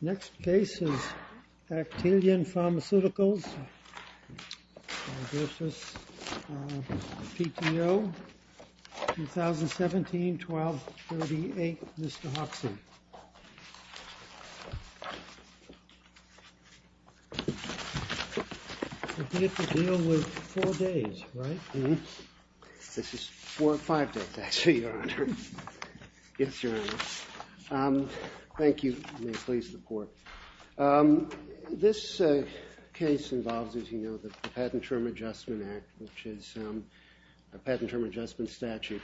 Next case is Actelion Pharmaceuticals, PTO, 2017-12-38, Mr. Hoxson. We have to deal with four days, right? This is four or five days, actually, Your Honor. Yes, Your Honor. Thank you. May it please the Court. This case involves, as you know, the Patent Term Adjustment Act, which is a patent term adjustment statute,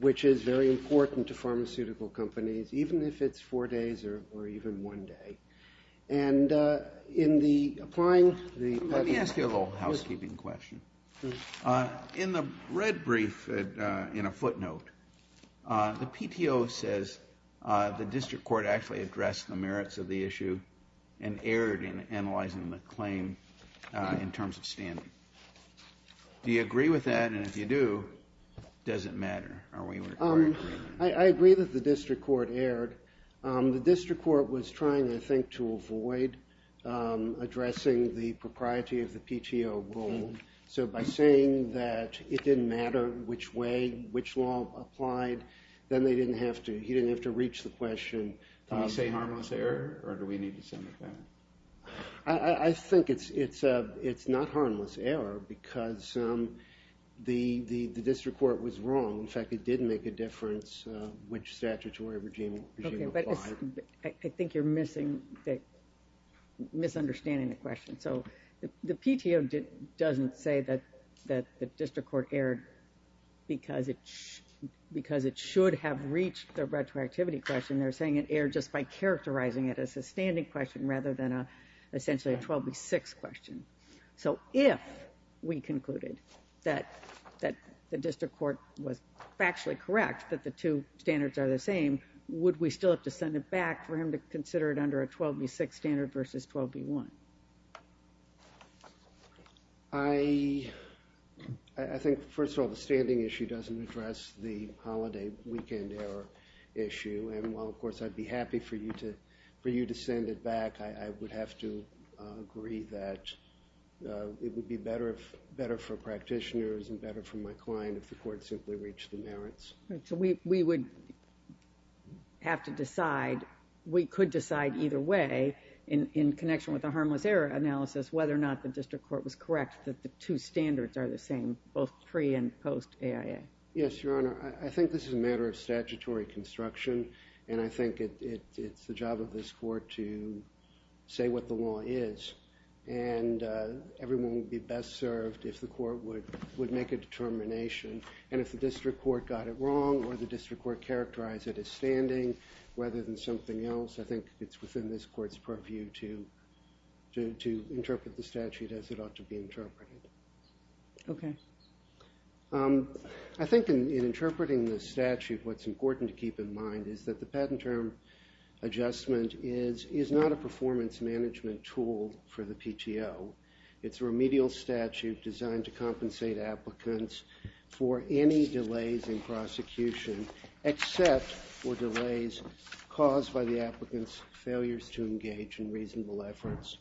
which is very important to pharmaceutical companies, even if it's four days or even one day. And in the applying the… Let me ask you a little housekeeping question. In the red brief, in a footnote, the PTO says the district court actually addressed the merits of the issue and erred in analyzing the claim in terms of standing. Do you agree with that? And if you do, does it matter? I agree that the district court erred. The district court was trying, I think, to avoid addressing the propriety of the PTO role. So by saying that it didn't matter which way, which law applied, then he didn't have to reach the question. Did he say harmless error, or do we need to send it back? I think it's not harmless error because the district court was wrong. In fact, it did make a difference which statutory regime applied. I think you're misunderstanding the question. So the PTO doesn't say that the district court erred because it should have reached the retroactivity question. They're saying it erred just by characterizing it as a standing question rather than essentially a 12 v. 6 question. So if we concluded that the district court was factually correct that the two standards are the same, would we still have to send it back for him to consider it under a 12 v. 6 standard versus 12 v. 1? I think, first of all, the standing issue doesn't address the holiday weekend error issue. And while, of course, I'd be happy for you to send it back, I would have to agree that it would be better for practitioners and better for my client if the court simply reached the merits. So we would have to decide, we could decide either way, in connection with the harmless error analysis, whether or not the district court was correct that the two standards are the same, both pre- and post-AIA. Yes, Your Honor, I think this is a matter of statutory construction, and I think it's the job of this court to say what the law is. And everyone would be best served if the court would make a determination. And if the district court got it wrong or the district court characterized it as standing rather than something else, I think it's within this court's purview to interpret the statute as it ought to be interpreted. Okay. I think in interpreting the statute, what's important to keep in mind is that the patent term adjustment is not a performance management tool for the PTO. It's a remedial statute designed to compensate applicants for any delays in prosecution, except for delays caused by the applicant's failures to engage in reasonable efforts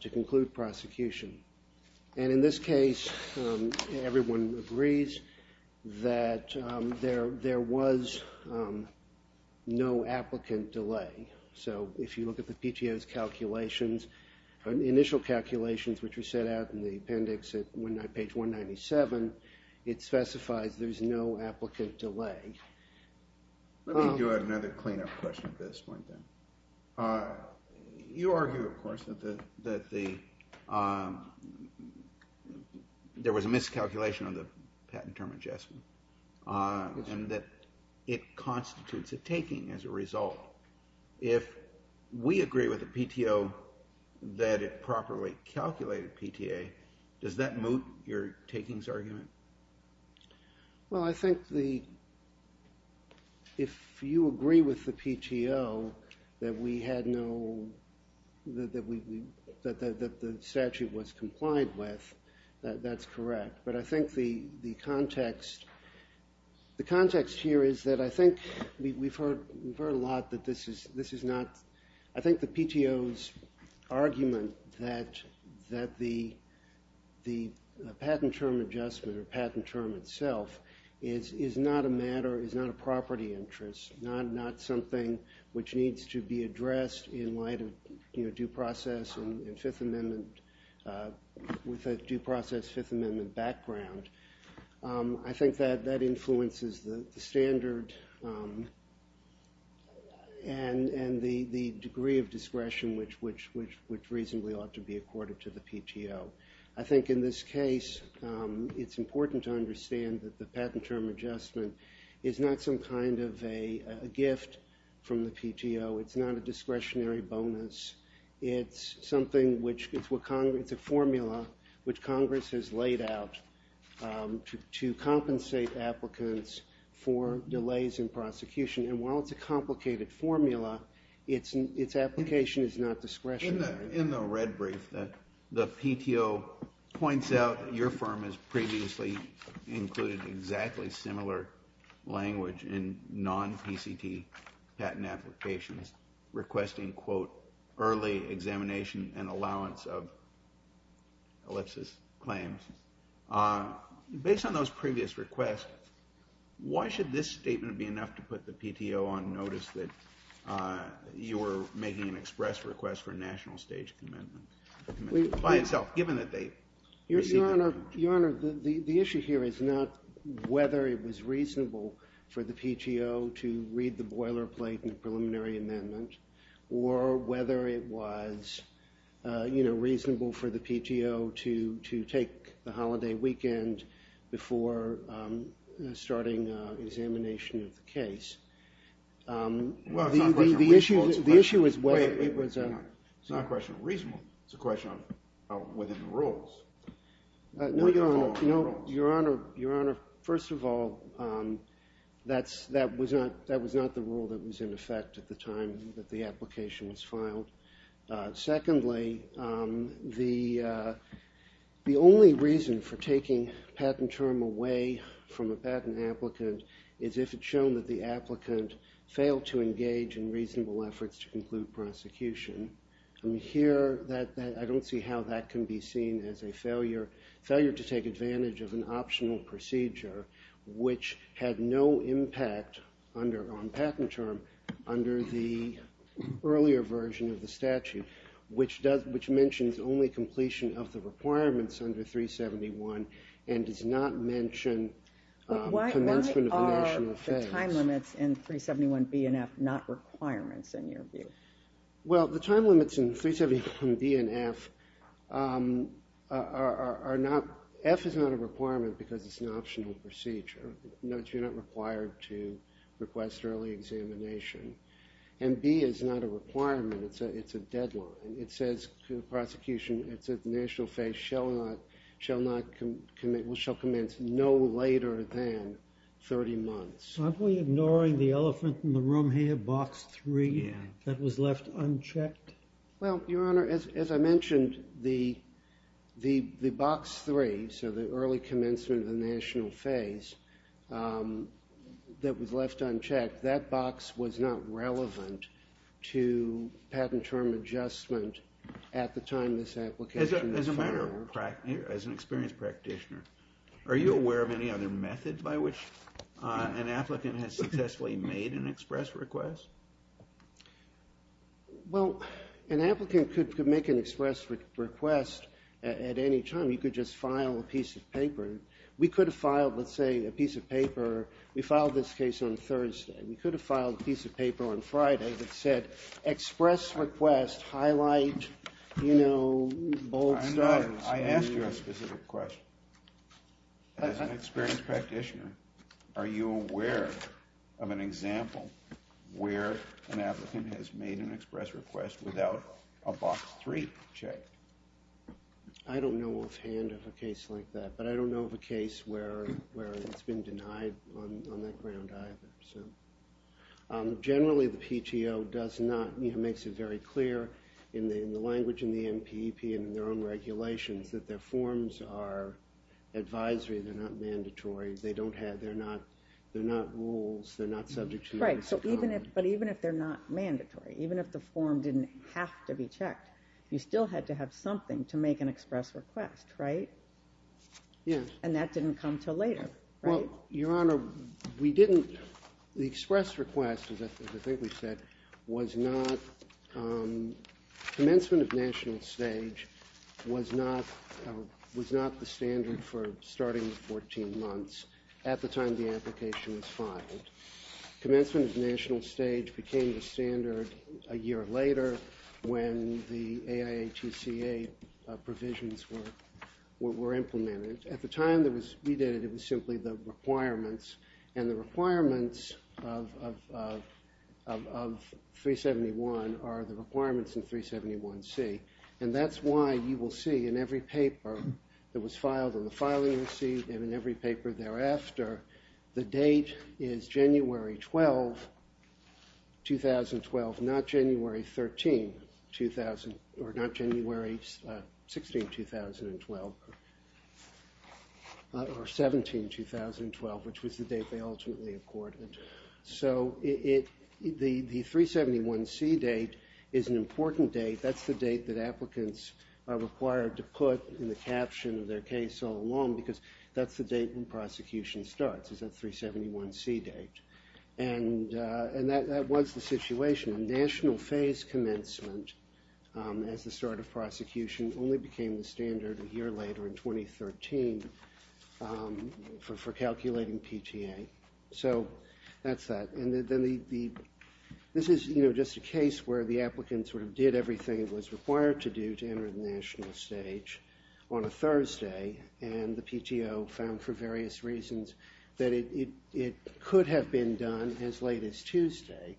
to conclude prosecution. And in this case, everyone agrees that there was no applicant delay. So if you look at the PTO's initial calculations, which we set out in the appendix at page 197, it specifies there's no applicant delay. Let me do another cleanup question at this point, then. You argue, of course, that there was a miscalculation on the patent term adjustment and that it constitutes a taking as a result. If we agree with the PTO that it properly calculated PTA, does that moot your takings argument? Well, I think if you agree with the PTO that the statute was compliant with, that's correct. But I think the context here is that I think we've heard a lot that this is not – I think the PTO's argument that the patent term adjustment or patent term itself is not a matter, is not a property interest, not something which needs to be addressed in light of due process and Fifth Amendment – with a due process Fifth Amendment background. I think that that influences the standard and the degree of discretion which reasonably ought to be accorded to the PTO. I think in this case, it's important to understand that the patent term adjustment is not some kind of a gift from the PTO. It's not a discretionary bonus. It's a formula which Congress has laid out to compensate applicants for delays in prosecution. And while it's a complicated formula, its application is not discretionary. In the red brief, the PTO points out that your firm has previously included exactly similar language in non-PCT patent applications, requesting, quote, early examination and allowance of ellipsis claims. Based on those previous requests, why should this statement be enough to put the PTO on notice that you're making an express request for a national stage commitment by itself, given that they received it? Your Honor, the issue here is not whether it was reasonable for the PTO to read the boilerplate in the preliminary amendment or whether it was, you know, reasonable for the PTO to take the holiday weekend before starting examination of the case. Well, it's not a question of reasonable. The issue is whether it was a – It's not a question of reasonable. It's a question of whether the rules – Your Honor, first of all, that was not the rule that was in effect at the time that the application was filed. Secondly, the only reason for taking a patent term away from a patent applicant is if it's shown that the applicant failed to engage in reasonable efforts to conclude prosecution. Here, I don't see how that can be seen as a failure to take advantage of an optional procedure, which had no impact on patent term under the earlier version of the statute, which mentions only completion of the requirements under 371 and does not mention commencement of a national phase. Why are the time limits in 371B and F not requirements, in your view? Well, the time limits in 371B and F are not – F is not a requirement because it's an optional procedure. You're not required to request early examination. And B is not a requirement. It's a deadline. It says prosecution – it says the national phase shall not – shall commence no later than 30 months. Aren't we ignoring the elephant in the room here, Box 3? Yeah. That was left unchecked? Well, Your Honor, as I mentioned, the Box 3, so the early commencement of the national phase, that was left unchecked. That box was not relevant to patent term adjustment at the time this application was filed. As a matter of – as an experienced practitioner, are you aware of any other method by which an applicant has successfully made an express request? Well, an applicant could make an express request at any time. You could just file a piece of paper. We could have filed, let's say, a piece of paper – we filed this case on Thursday. We could have filed a piece of paper on Friday that said express request, highlight, you know, bold stuff. Your Honor, I ask you a specific question. As an experienced practitioner, are you aware of an example where an applicant has made an express request without a Box 3 checked? I don't know offhand of a case like that, but I don't know of a case where it's been denied on that ground either. Generally, the PTO does not – you know, makes it very clear in the language in the NPEP and in their own regulations that their forms are advisory. They're not mandatory. They don't have – they're not – they're not rules. They're not subject to the basic common law. Right, so even if – but even if they're not mandatory, even if the form didn't have to be checked, you still had to have something to make an express request, right? Yes. And that didn't come until later, right? Well, Your Honor, we didn't – the express request, as I think we've said, was not – commencement of national stage was not the standard for starting with 14 months at the time the application was filed. Commencement of national stage became the standard a year later when the AIATCA provisions were implemented. At the time that we did it, it was simply the requirements, and the requirements of 371 are the requirements in 371C. And that's why you will see in every paper that was filed, in the filing receipt and in every paper thereafter, the date is January 12, 2012, not January 13, 2000 – or not January 16, 2012, or 17, 2012, which was the date they ultimately accorded. So it – the 371C date is an important date. That's the date that applicants are required to put in the caption of their case all along because that's the date when prosecution starts is that 371C date. And that was the situation. National phase commencement as the start of prosecution only became the standard a year later in 2013 for calculating PTA. So that's that. And then the – this is, you know, just a case where the applicant sort of did everything it was required to do to enter the national stage on a Thursday, and the PTO found for various reasons that it could have been done as late as Tuesday.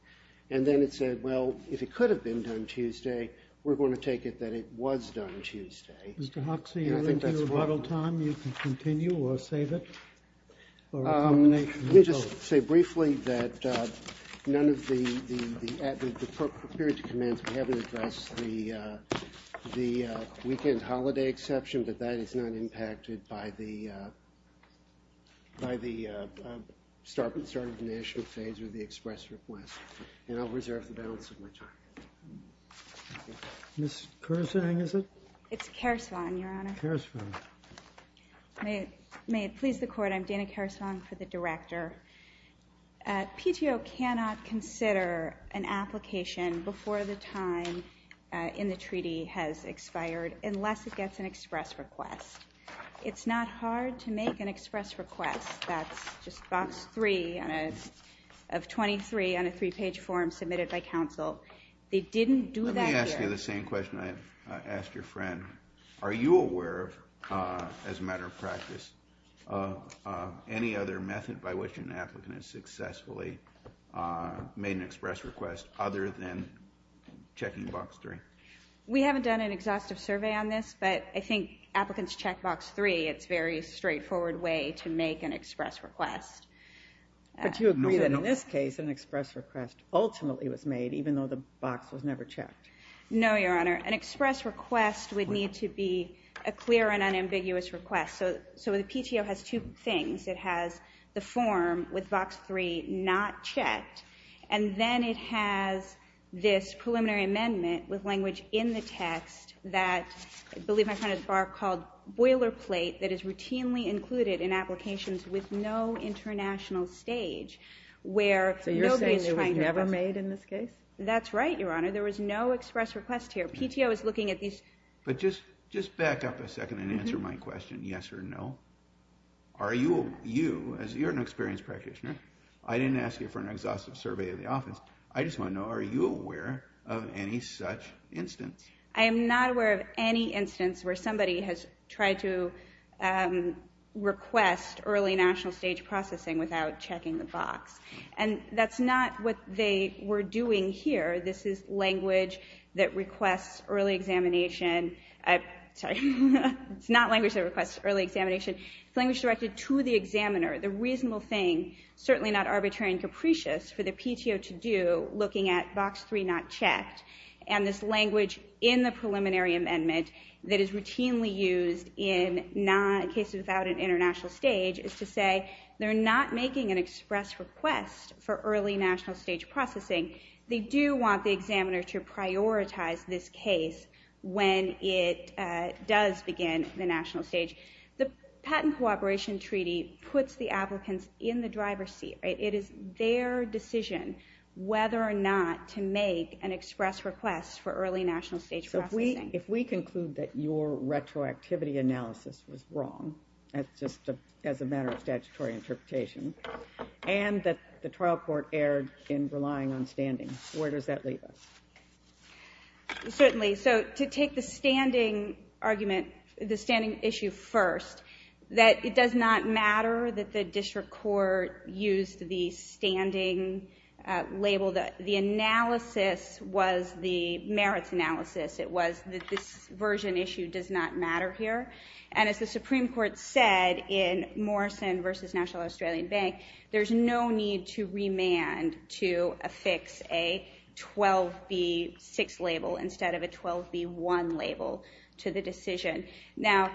And then it said, well, if it could have been done Tuesday, we're going to take it that it was done Tuesday. Mr. Hoxie, you're into your bottle time. You can continue or save it or a combination of both. Let me just say briefly that none of the – we haven't addressed the weekend holiday exception, but that is not impacted by the start of the national phase or the express request. And I'll reserve the balance of my time. Ms. Kersvang, is it? It's Kersvang, Your Honor. Kersvang. May it please the Court, I'm Dana Kersvang for the director. PTO cannot consider an application before the time in the treaty has expired unless it gets an express request. It's not hard to make an express request. That's just box three of 23 on a three-page form submitted by counsel. They didn't do that here. Let me ask you the same question I asked your friend. Are you aware of, as a matter of practice, any other method by which an applicant has successfully made an express request other than checking box three? We haven't done an exhaustive survey on this, but I think applicants check box three. It's a very straightforward way to make an express request. But you agree that in this case an express request ultimately was made, even though the box was never checked? No, Your Honor. An express request would need to be a clear and unambiguous request. So the PTO has two things. It has the form with box three not checked, and then it has this preliminary amendment with language in the text that I believe my friend has barked called boilerplate that is routinely included in applications with no international stage where nobody is trying to request. So you're saying it was never made in this case? That's right, Your Honor. There was no express request here. The PTO is looking at these. But just back up a second and answer my question, yes or no. Are you, as you're an experienced practitioner, I didn't ask you for an exhaustive survey of the office. I just want to know, are you aware of any such instance? I am not aware of any instance where somebody has tried to request early national stage processing without checking the box. And that's not what they were doing here. This is language that requests early examination. Sorry. It's not language that requests early examination. It's language directed to the examiner. The reasonable thing, certainly not arbitrary and capricious, for the PTO to do looking at box three not checked, and this language in the preliminary amendment that is routinely used in cases without an international stage is to say they're not making an express request for early national stage processing. They do want the examiner to prioritize this case when it does begin the national stage. The patent cooperation treaty puts the applicants in the driver's seat. It is their decision whether or not to make an express request for early national stage processing. So if we conclude that your retroactivity analysis was wrong, that's just as a matter of statutory interpretation, and that the trial court erred in relying on standing. Where does that leave us? Certainly. So to take the standing argument, the standing issue first, that it does not matter that the district court used the standing label. The analysis was the merits analysis. It was that this version issue does not matter here. And as the Supreme Court said in Morrison v. National Australian Bank, there's no need to remand to affix a 12B6 label instead of a 12B1 label to the decision. Now,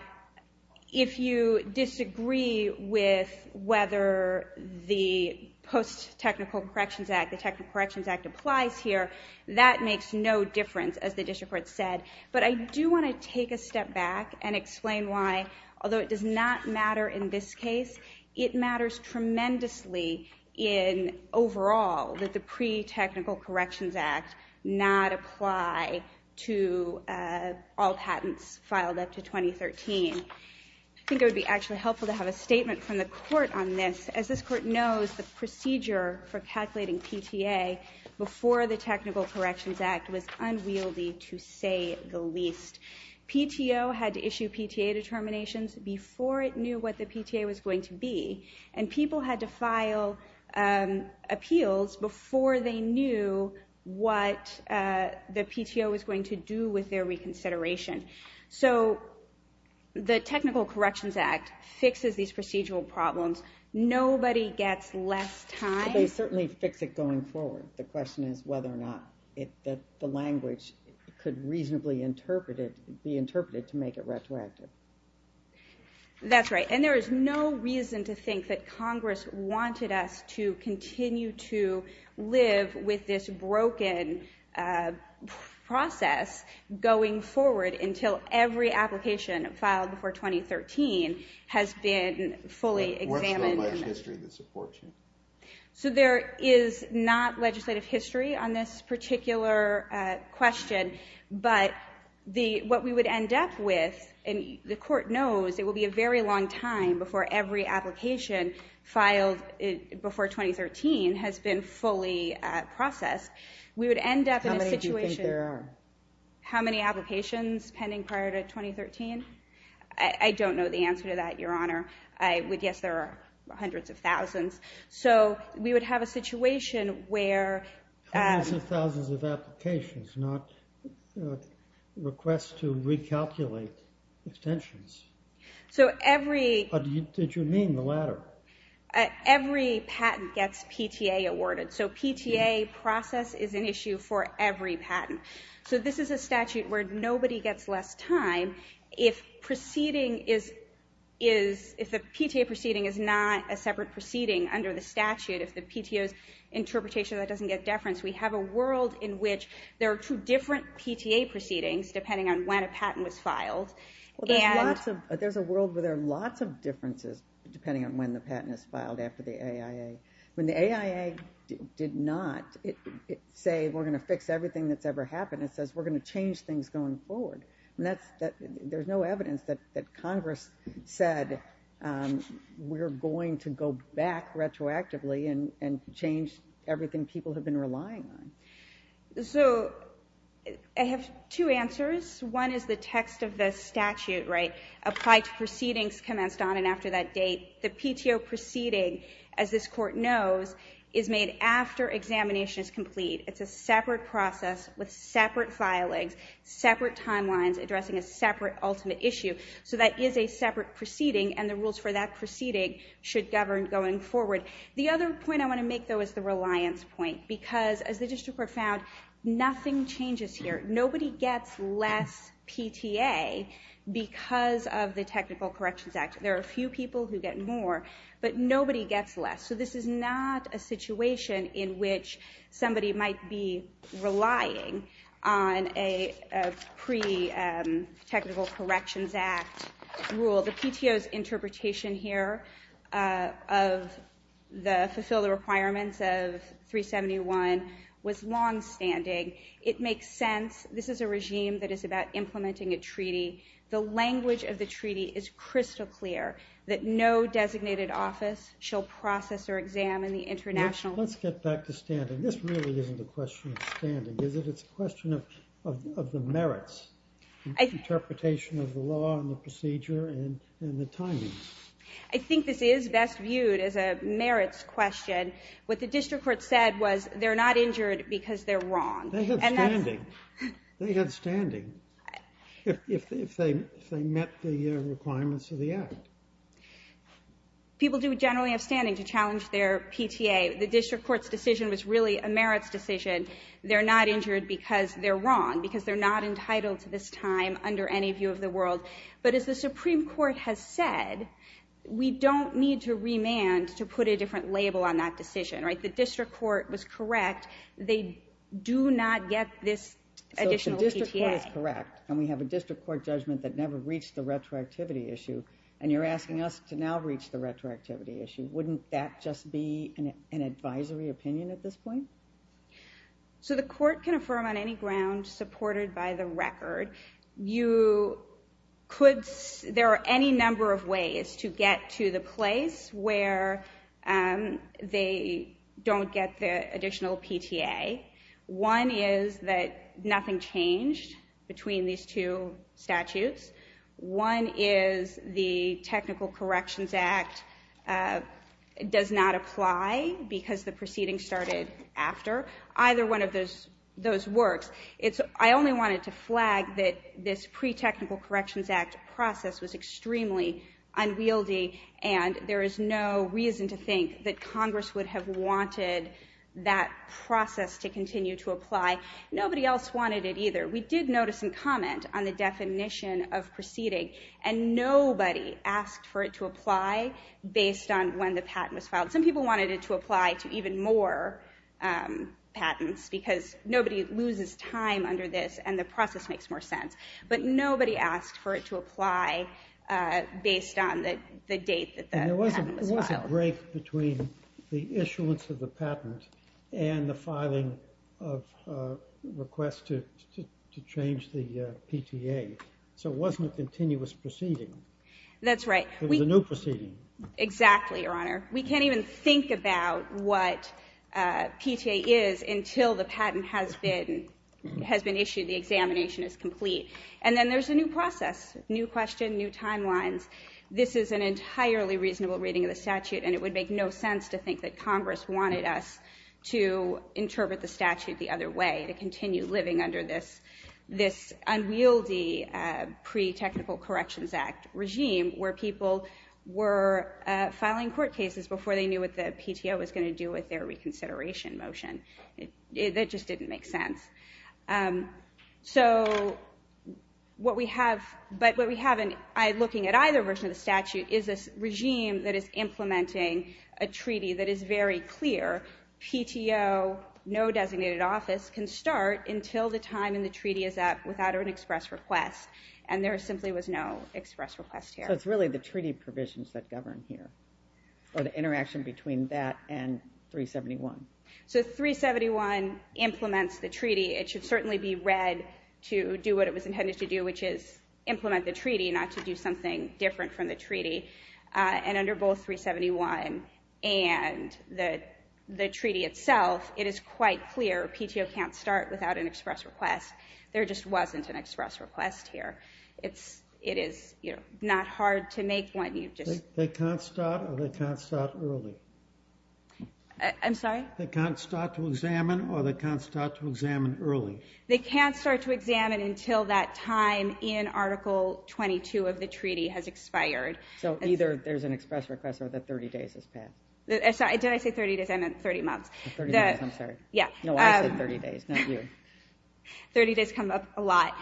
if you disagree with whether the Post-Technical Corrections Act, the Technical Corrections Act, applies here, that makes no difference, as the district court said. But I do want to take a step back and explain why, although it does not matter in this case, it matters tremendously in overall that the Pre-Technical Corrections Act not apply to all patents filed up to 2013. I think it would be actually helpful to have a statement from the court on this. As this court knows, the procedure for calculating PTA before the Technical Corrections Act was unwieldy to say the least. PTO had to issue PTA determinations before it knew what the PTA was going to be, and people had to file appeals before they knew what the PTO was going to do with their reconsideration. So the Technical Corrections Act fixes these procedural problems. Nobody gets less time. They certainly fix it going forward. The question is whether or not the language could reasonably be interpreted to make it retroactive. That's right, and there is no reason to think that Congress wanted us to continue to live with this broken process going forward until every application filed before 2013 has been fully examined. So there is not legislative history on this particular question, but what we would end up with, and the court knows it will be a very long time before every application filed before 2013 has been fully processed, we would end up in a situation... How many do you think there are? How many applications pending prior to 2013? I don't know the answer to that, Your Honor. Yes, there are hundreds of thousands. So we would have a situation where... Hundreds of thousands of applications, not requests to recalculate extensions. So every... Did you mean the latter? Every patent gets PTA awarded, so PTA process is an issue for every patent. So this is a statute where nobody gets less time if the PTA proceeding is not a separate proceeding under the statute, if the PTA's interpretation of that doesn't get deference. We have a world in which there are two different PTA proceedings depending on when a patent was filed. There's a world where there are lots of differences depending on when the patent is filed after the AIA. When the AIA did not say we're going to fix everything that's ever happened, it says we're going to change things going forward. There's no evidence that Congress said we're going to go back retroactively and change everything people have been relying on. So I have two answers. One is the text of the statute, right? Applied to proceedings commenced on and after that date. The PTO proceeding, as this Court knows, is made after examination is complete. It's a separate process with separate filings, separate timelines addressing a separate ultimate issue. So that is a separate proceeding and the rules for that proceeding should govern going forward. The other point I want to make, though, is the reliance point because, as the District Court found, nothing changes here. Nobody gets less PTA because of the Technical Corrections Act. There are a few people who get more, but nobody gets less. So this is not a situation in which somebody might be relying on a pre-Technical Corrections Act rule. The PTO's interpretation here of the fulfill the requirements of 371 was longstanding. It makes sense. This is a regime that is about implementing a treaty. The language of the treaty is crystal clear, that no designated office shall process or examine the international Let's get back to standing. This really isn't a question of standing, is it? It's a question of the merits, the interpretation of the law and the procedure and the timing. I think this is best viewed as a merits question. What the District Court said was they're not injured because they're wrong. They have standing if they met the requirements of the act. People do generally have standing to challenge their PTA. The District Court's decision was really a merits decision. They're not injured because they're wrong, because they're not entitled to this time under any view of the world. But as the Supreme Court has said, we don't need to remand to put a different label on that decision. The District Court was correct. They do not get this additional PTA. The District Court is correct, and we have a District Court judgment that never reached the retroactivity issue, and you're asking us to now reach the retroactivity issue. Wouldn't that just be an advisory opinion at this point? The Court can affirm on any ground supported by the record. There are any number of ways to get to the place where they don't get the additional PTA. One is that nothing changed between these two statutes. One is the Technical Corrections Act does not apply because the proceeding started after either one of those works. I only wanted to flag that this pre-Technical Corrections Act process was extremely unwieldy, and there is no reason to think that Congress would have wanted that process to continue to apply. Nobody else wanted it either. We did notice some comment on the definition of proceeding, and nobody asked for it to apply based on when the patent was filed. Some people wanted it to apply to even more patents because nobody loses time under this, and the process makes more sense. But nobody asked for it to apply based on the date that the patent was filed. There was a break between the issuance of the patent and the filing of requests to change the PTA, so it wasn't a continuous proceeding. That's right. It was a new proceeding. Exactly, Your Honor. We can't even think about what PTA is until the patent has been issued, the examination is complete, and then there's a new process, new question, new timelines. This is an entirely reasonable reading of the statute, and it would make no sense to think that Congress wanted us to interpret the statute the other way, to continue living under this unwieldy pre-Technical Corrections Act regime where people were filing court cases before they knew what the PTO was going to do with their reconsideration motion. That just didn't make sense. But what we have, looking at either version of the statute, is a regime that is implementing a treaty that is very clear. PTO, no designated office, can start until the time in the treaty is up without an express request, and there simply was no express request here. So it's really the treaty provisions that govern here, or the interaction between that and 371. So 371 implements the treaty. It should certainly be read to do what it was intended to do, which is implement the treaty, not to do something different from the treaty. And under both 371 and the treaty itself, it is quite clear. PTO can't start without an express request. There just wasn't an express request here. It is not hard to make one. They can't start, or they can't start early? I'm sorry? They can't start to examine, or they can't start to examine early? They can't start to examine until that time in Article 22 of the treaty has expired. So either there's an express request or the 30 days has passed. Sorry, did I say 30 days? I meant 30 months. The 30 days, I'm sorry. Yeah. No, I said 30 days, not you. 30 days come up a lot.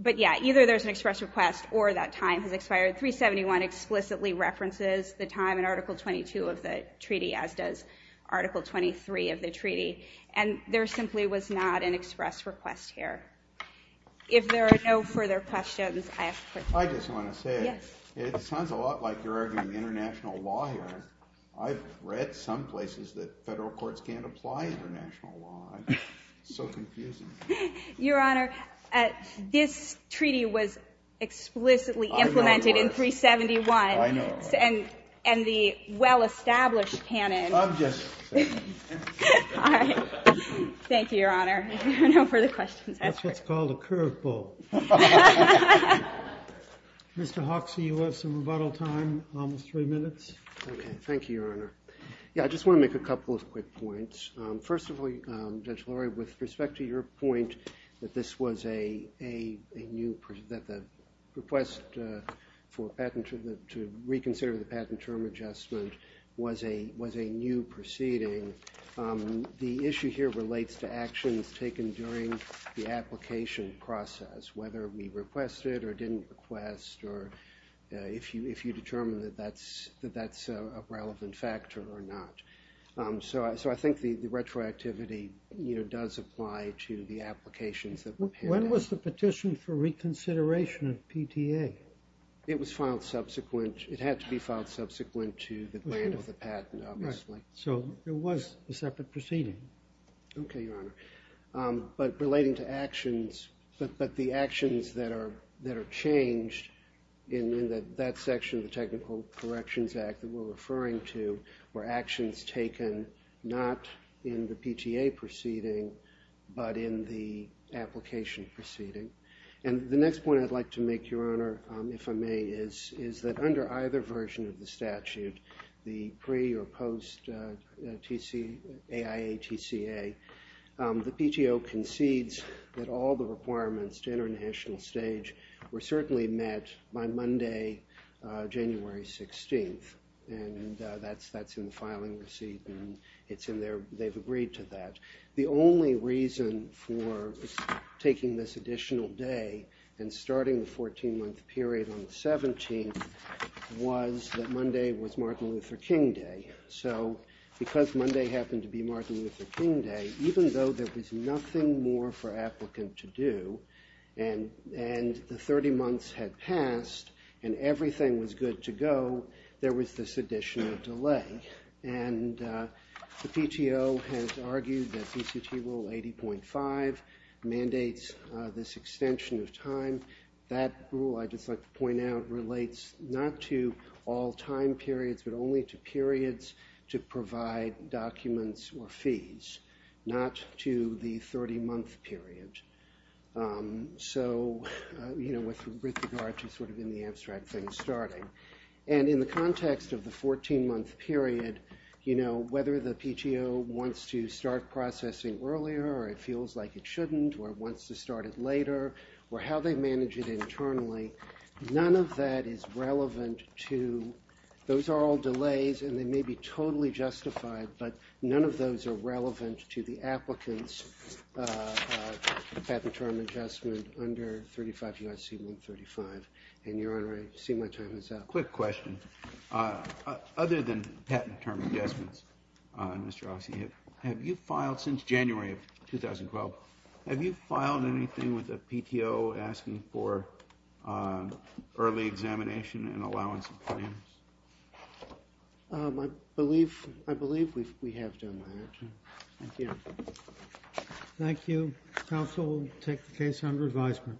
But, yeah, either there's an express request or that time has expired. 371 explicitly references the time in Article 22 of the treaty, as does Article 23 of the treaty. And there simply was not an express request here. If there are no further questions, I have a question. I just want to say, it sounds a lot like you're arguing international law here. I've read some places that federal courts can't apply international law. It's so confusing. Your Honor, this treaty was explicitly implemented in 371. I know. And the well-established canon. I'm just saying. All right. Thank you, Your Honor. If there are no further questions, that's it. That's what's called a curve ball. Mr. Hoxie, you have some rebuttal time, almost three minutes. Okay, thank you, Your Honor. Yeah, I just want to make a couple of quick points. First of all, Judge Lurie, with respect to your point that the request to reconsider the patent term adjustment was a new proceeding, the issue here relates to actions taken during the application process, whether we requested or didn't request, or if you determine that that's a relevant factor or not. So I think the retroactivity does apply to the applications that were prepared. When was the petition for reconsideration of PTA? It was filed subsequent. It had to be filed subsequent to the plan of the patent, obviously. So it was a separate proceeding. Okay, Your Honor. But relating to actions, but the actions that are changed in that section of the Technical Corrections Act that we're referring to were actions taken not in the PTA proceeding but in the application proceeding. And the next point I'd like to make, Your Honor, if I may, is that under either version of the statute, the pre- or post-AIA TCA, the PTO concedes that all the requirements to international stage were certainly met by Monday, January 16th. And that's in the filing receipt, and they've agreed to that. The only reason for taking this additional day and starting the 14-month period on the 17th was that Monday was Martin Luther King Day. So because Monday happened to be Martin Luther King Day, even though there was nothing more for applicant to do, and the 30 months had passed and everything was good to go, there was this additional delay. And the PTO has argued that ECT Rule 80.5 mandates this extension of time. That rule, I'd just like to point out, relates not to all time periods but only to periods to provide documents or fees, not to the 30-month period. So, you know, with regard to sort of in the abstract things starting. And in the context of the 14-month period, you know, whether the PTO wants to start processing earlier or it feels like it shouldn't or wants to start it later or how they manage it internally, none of that is relevant to those are all delays, and they may be totally justified, but none of those are relevant to the applicant's patent term adjustment under 35 UIC 135. And, Your Honor, I see my time is up. Quick question. Other than patent term adjustments, Mr. Ossie, have you filed since January of 2012, have you filed anything with the PTO asking for early examination and allowance of claims? I believe we have done that. Thank you. Thank you. Counsel will take the case under advisement.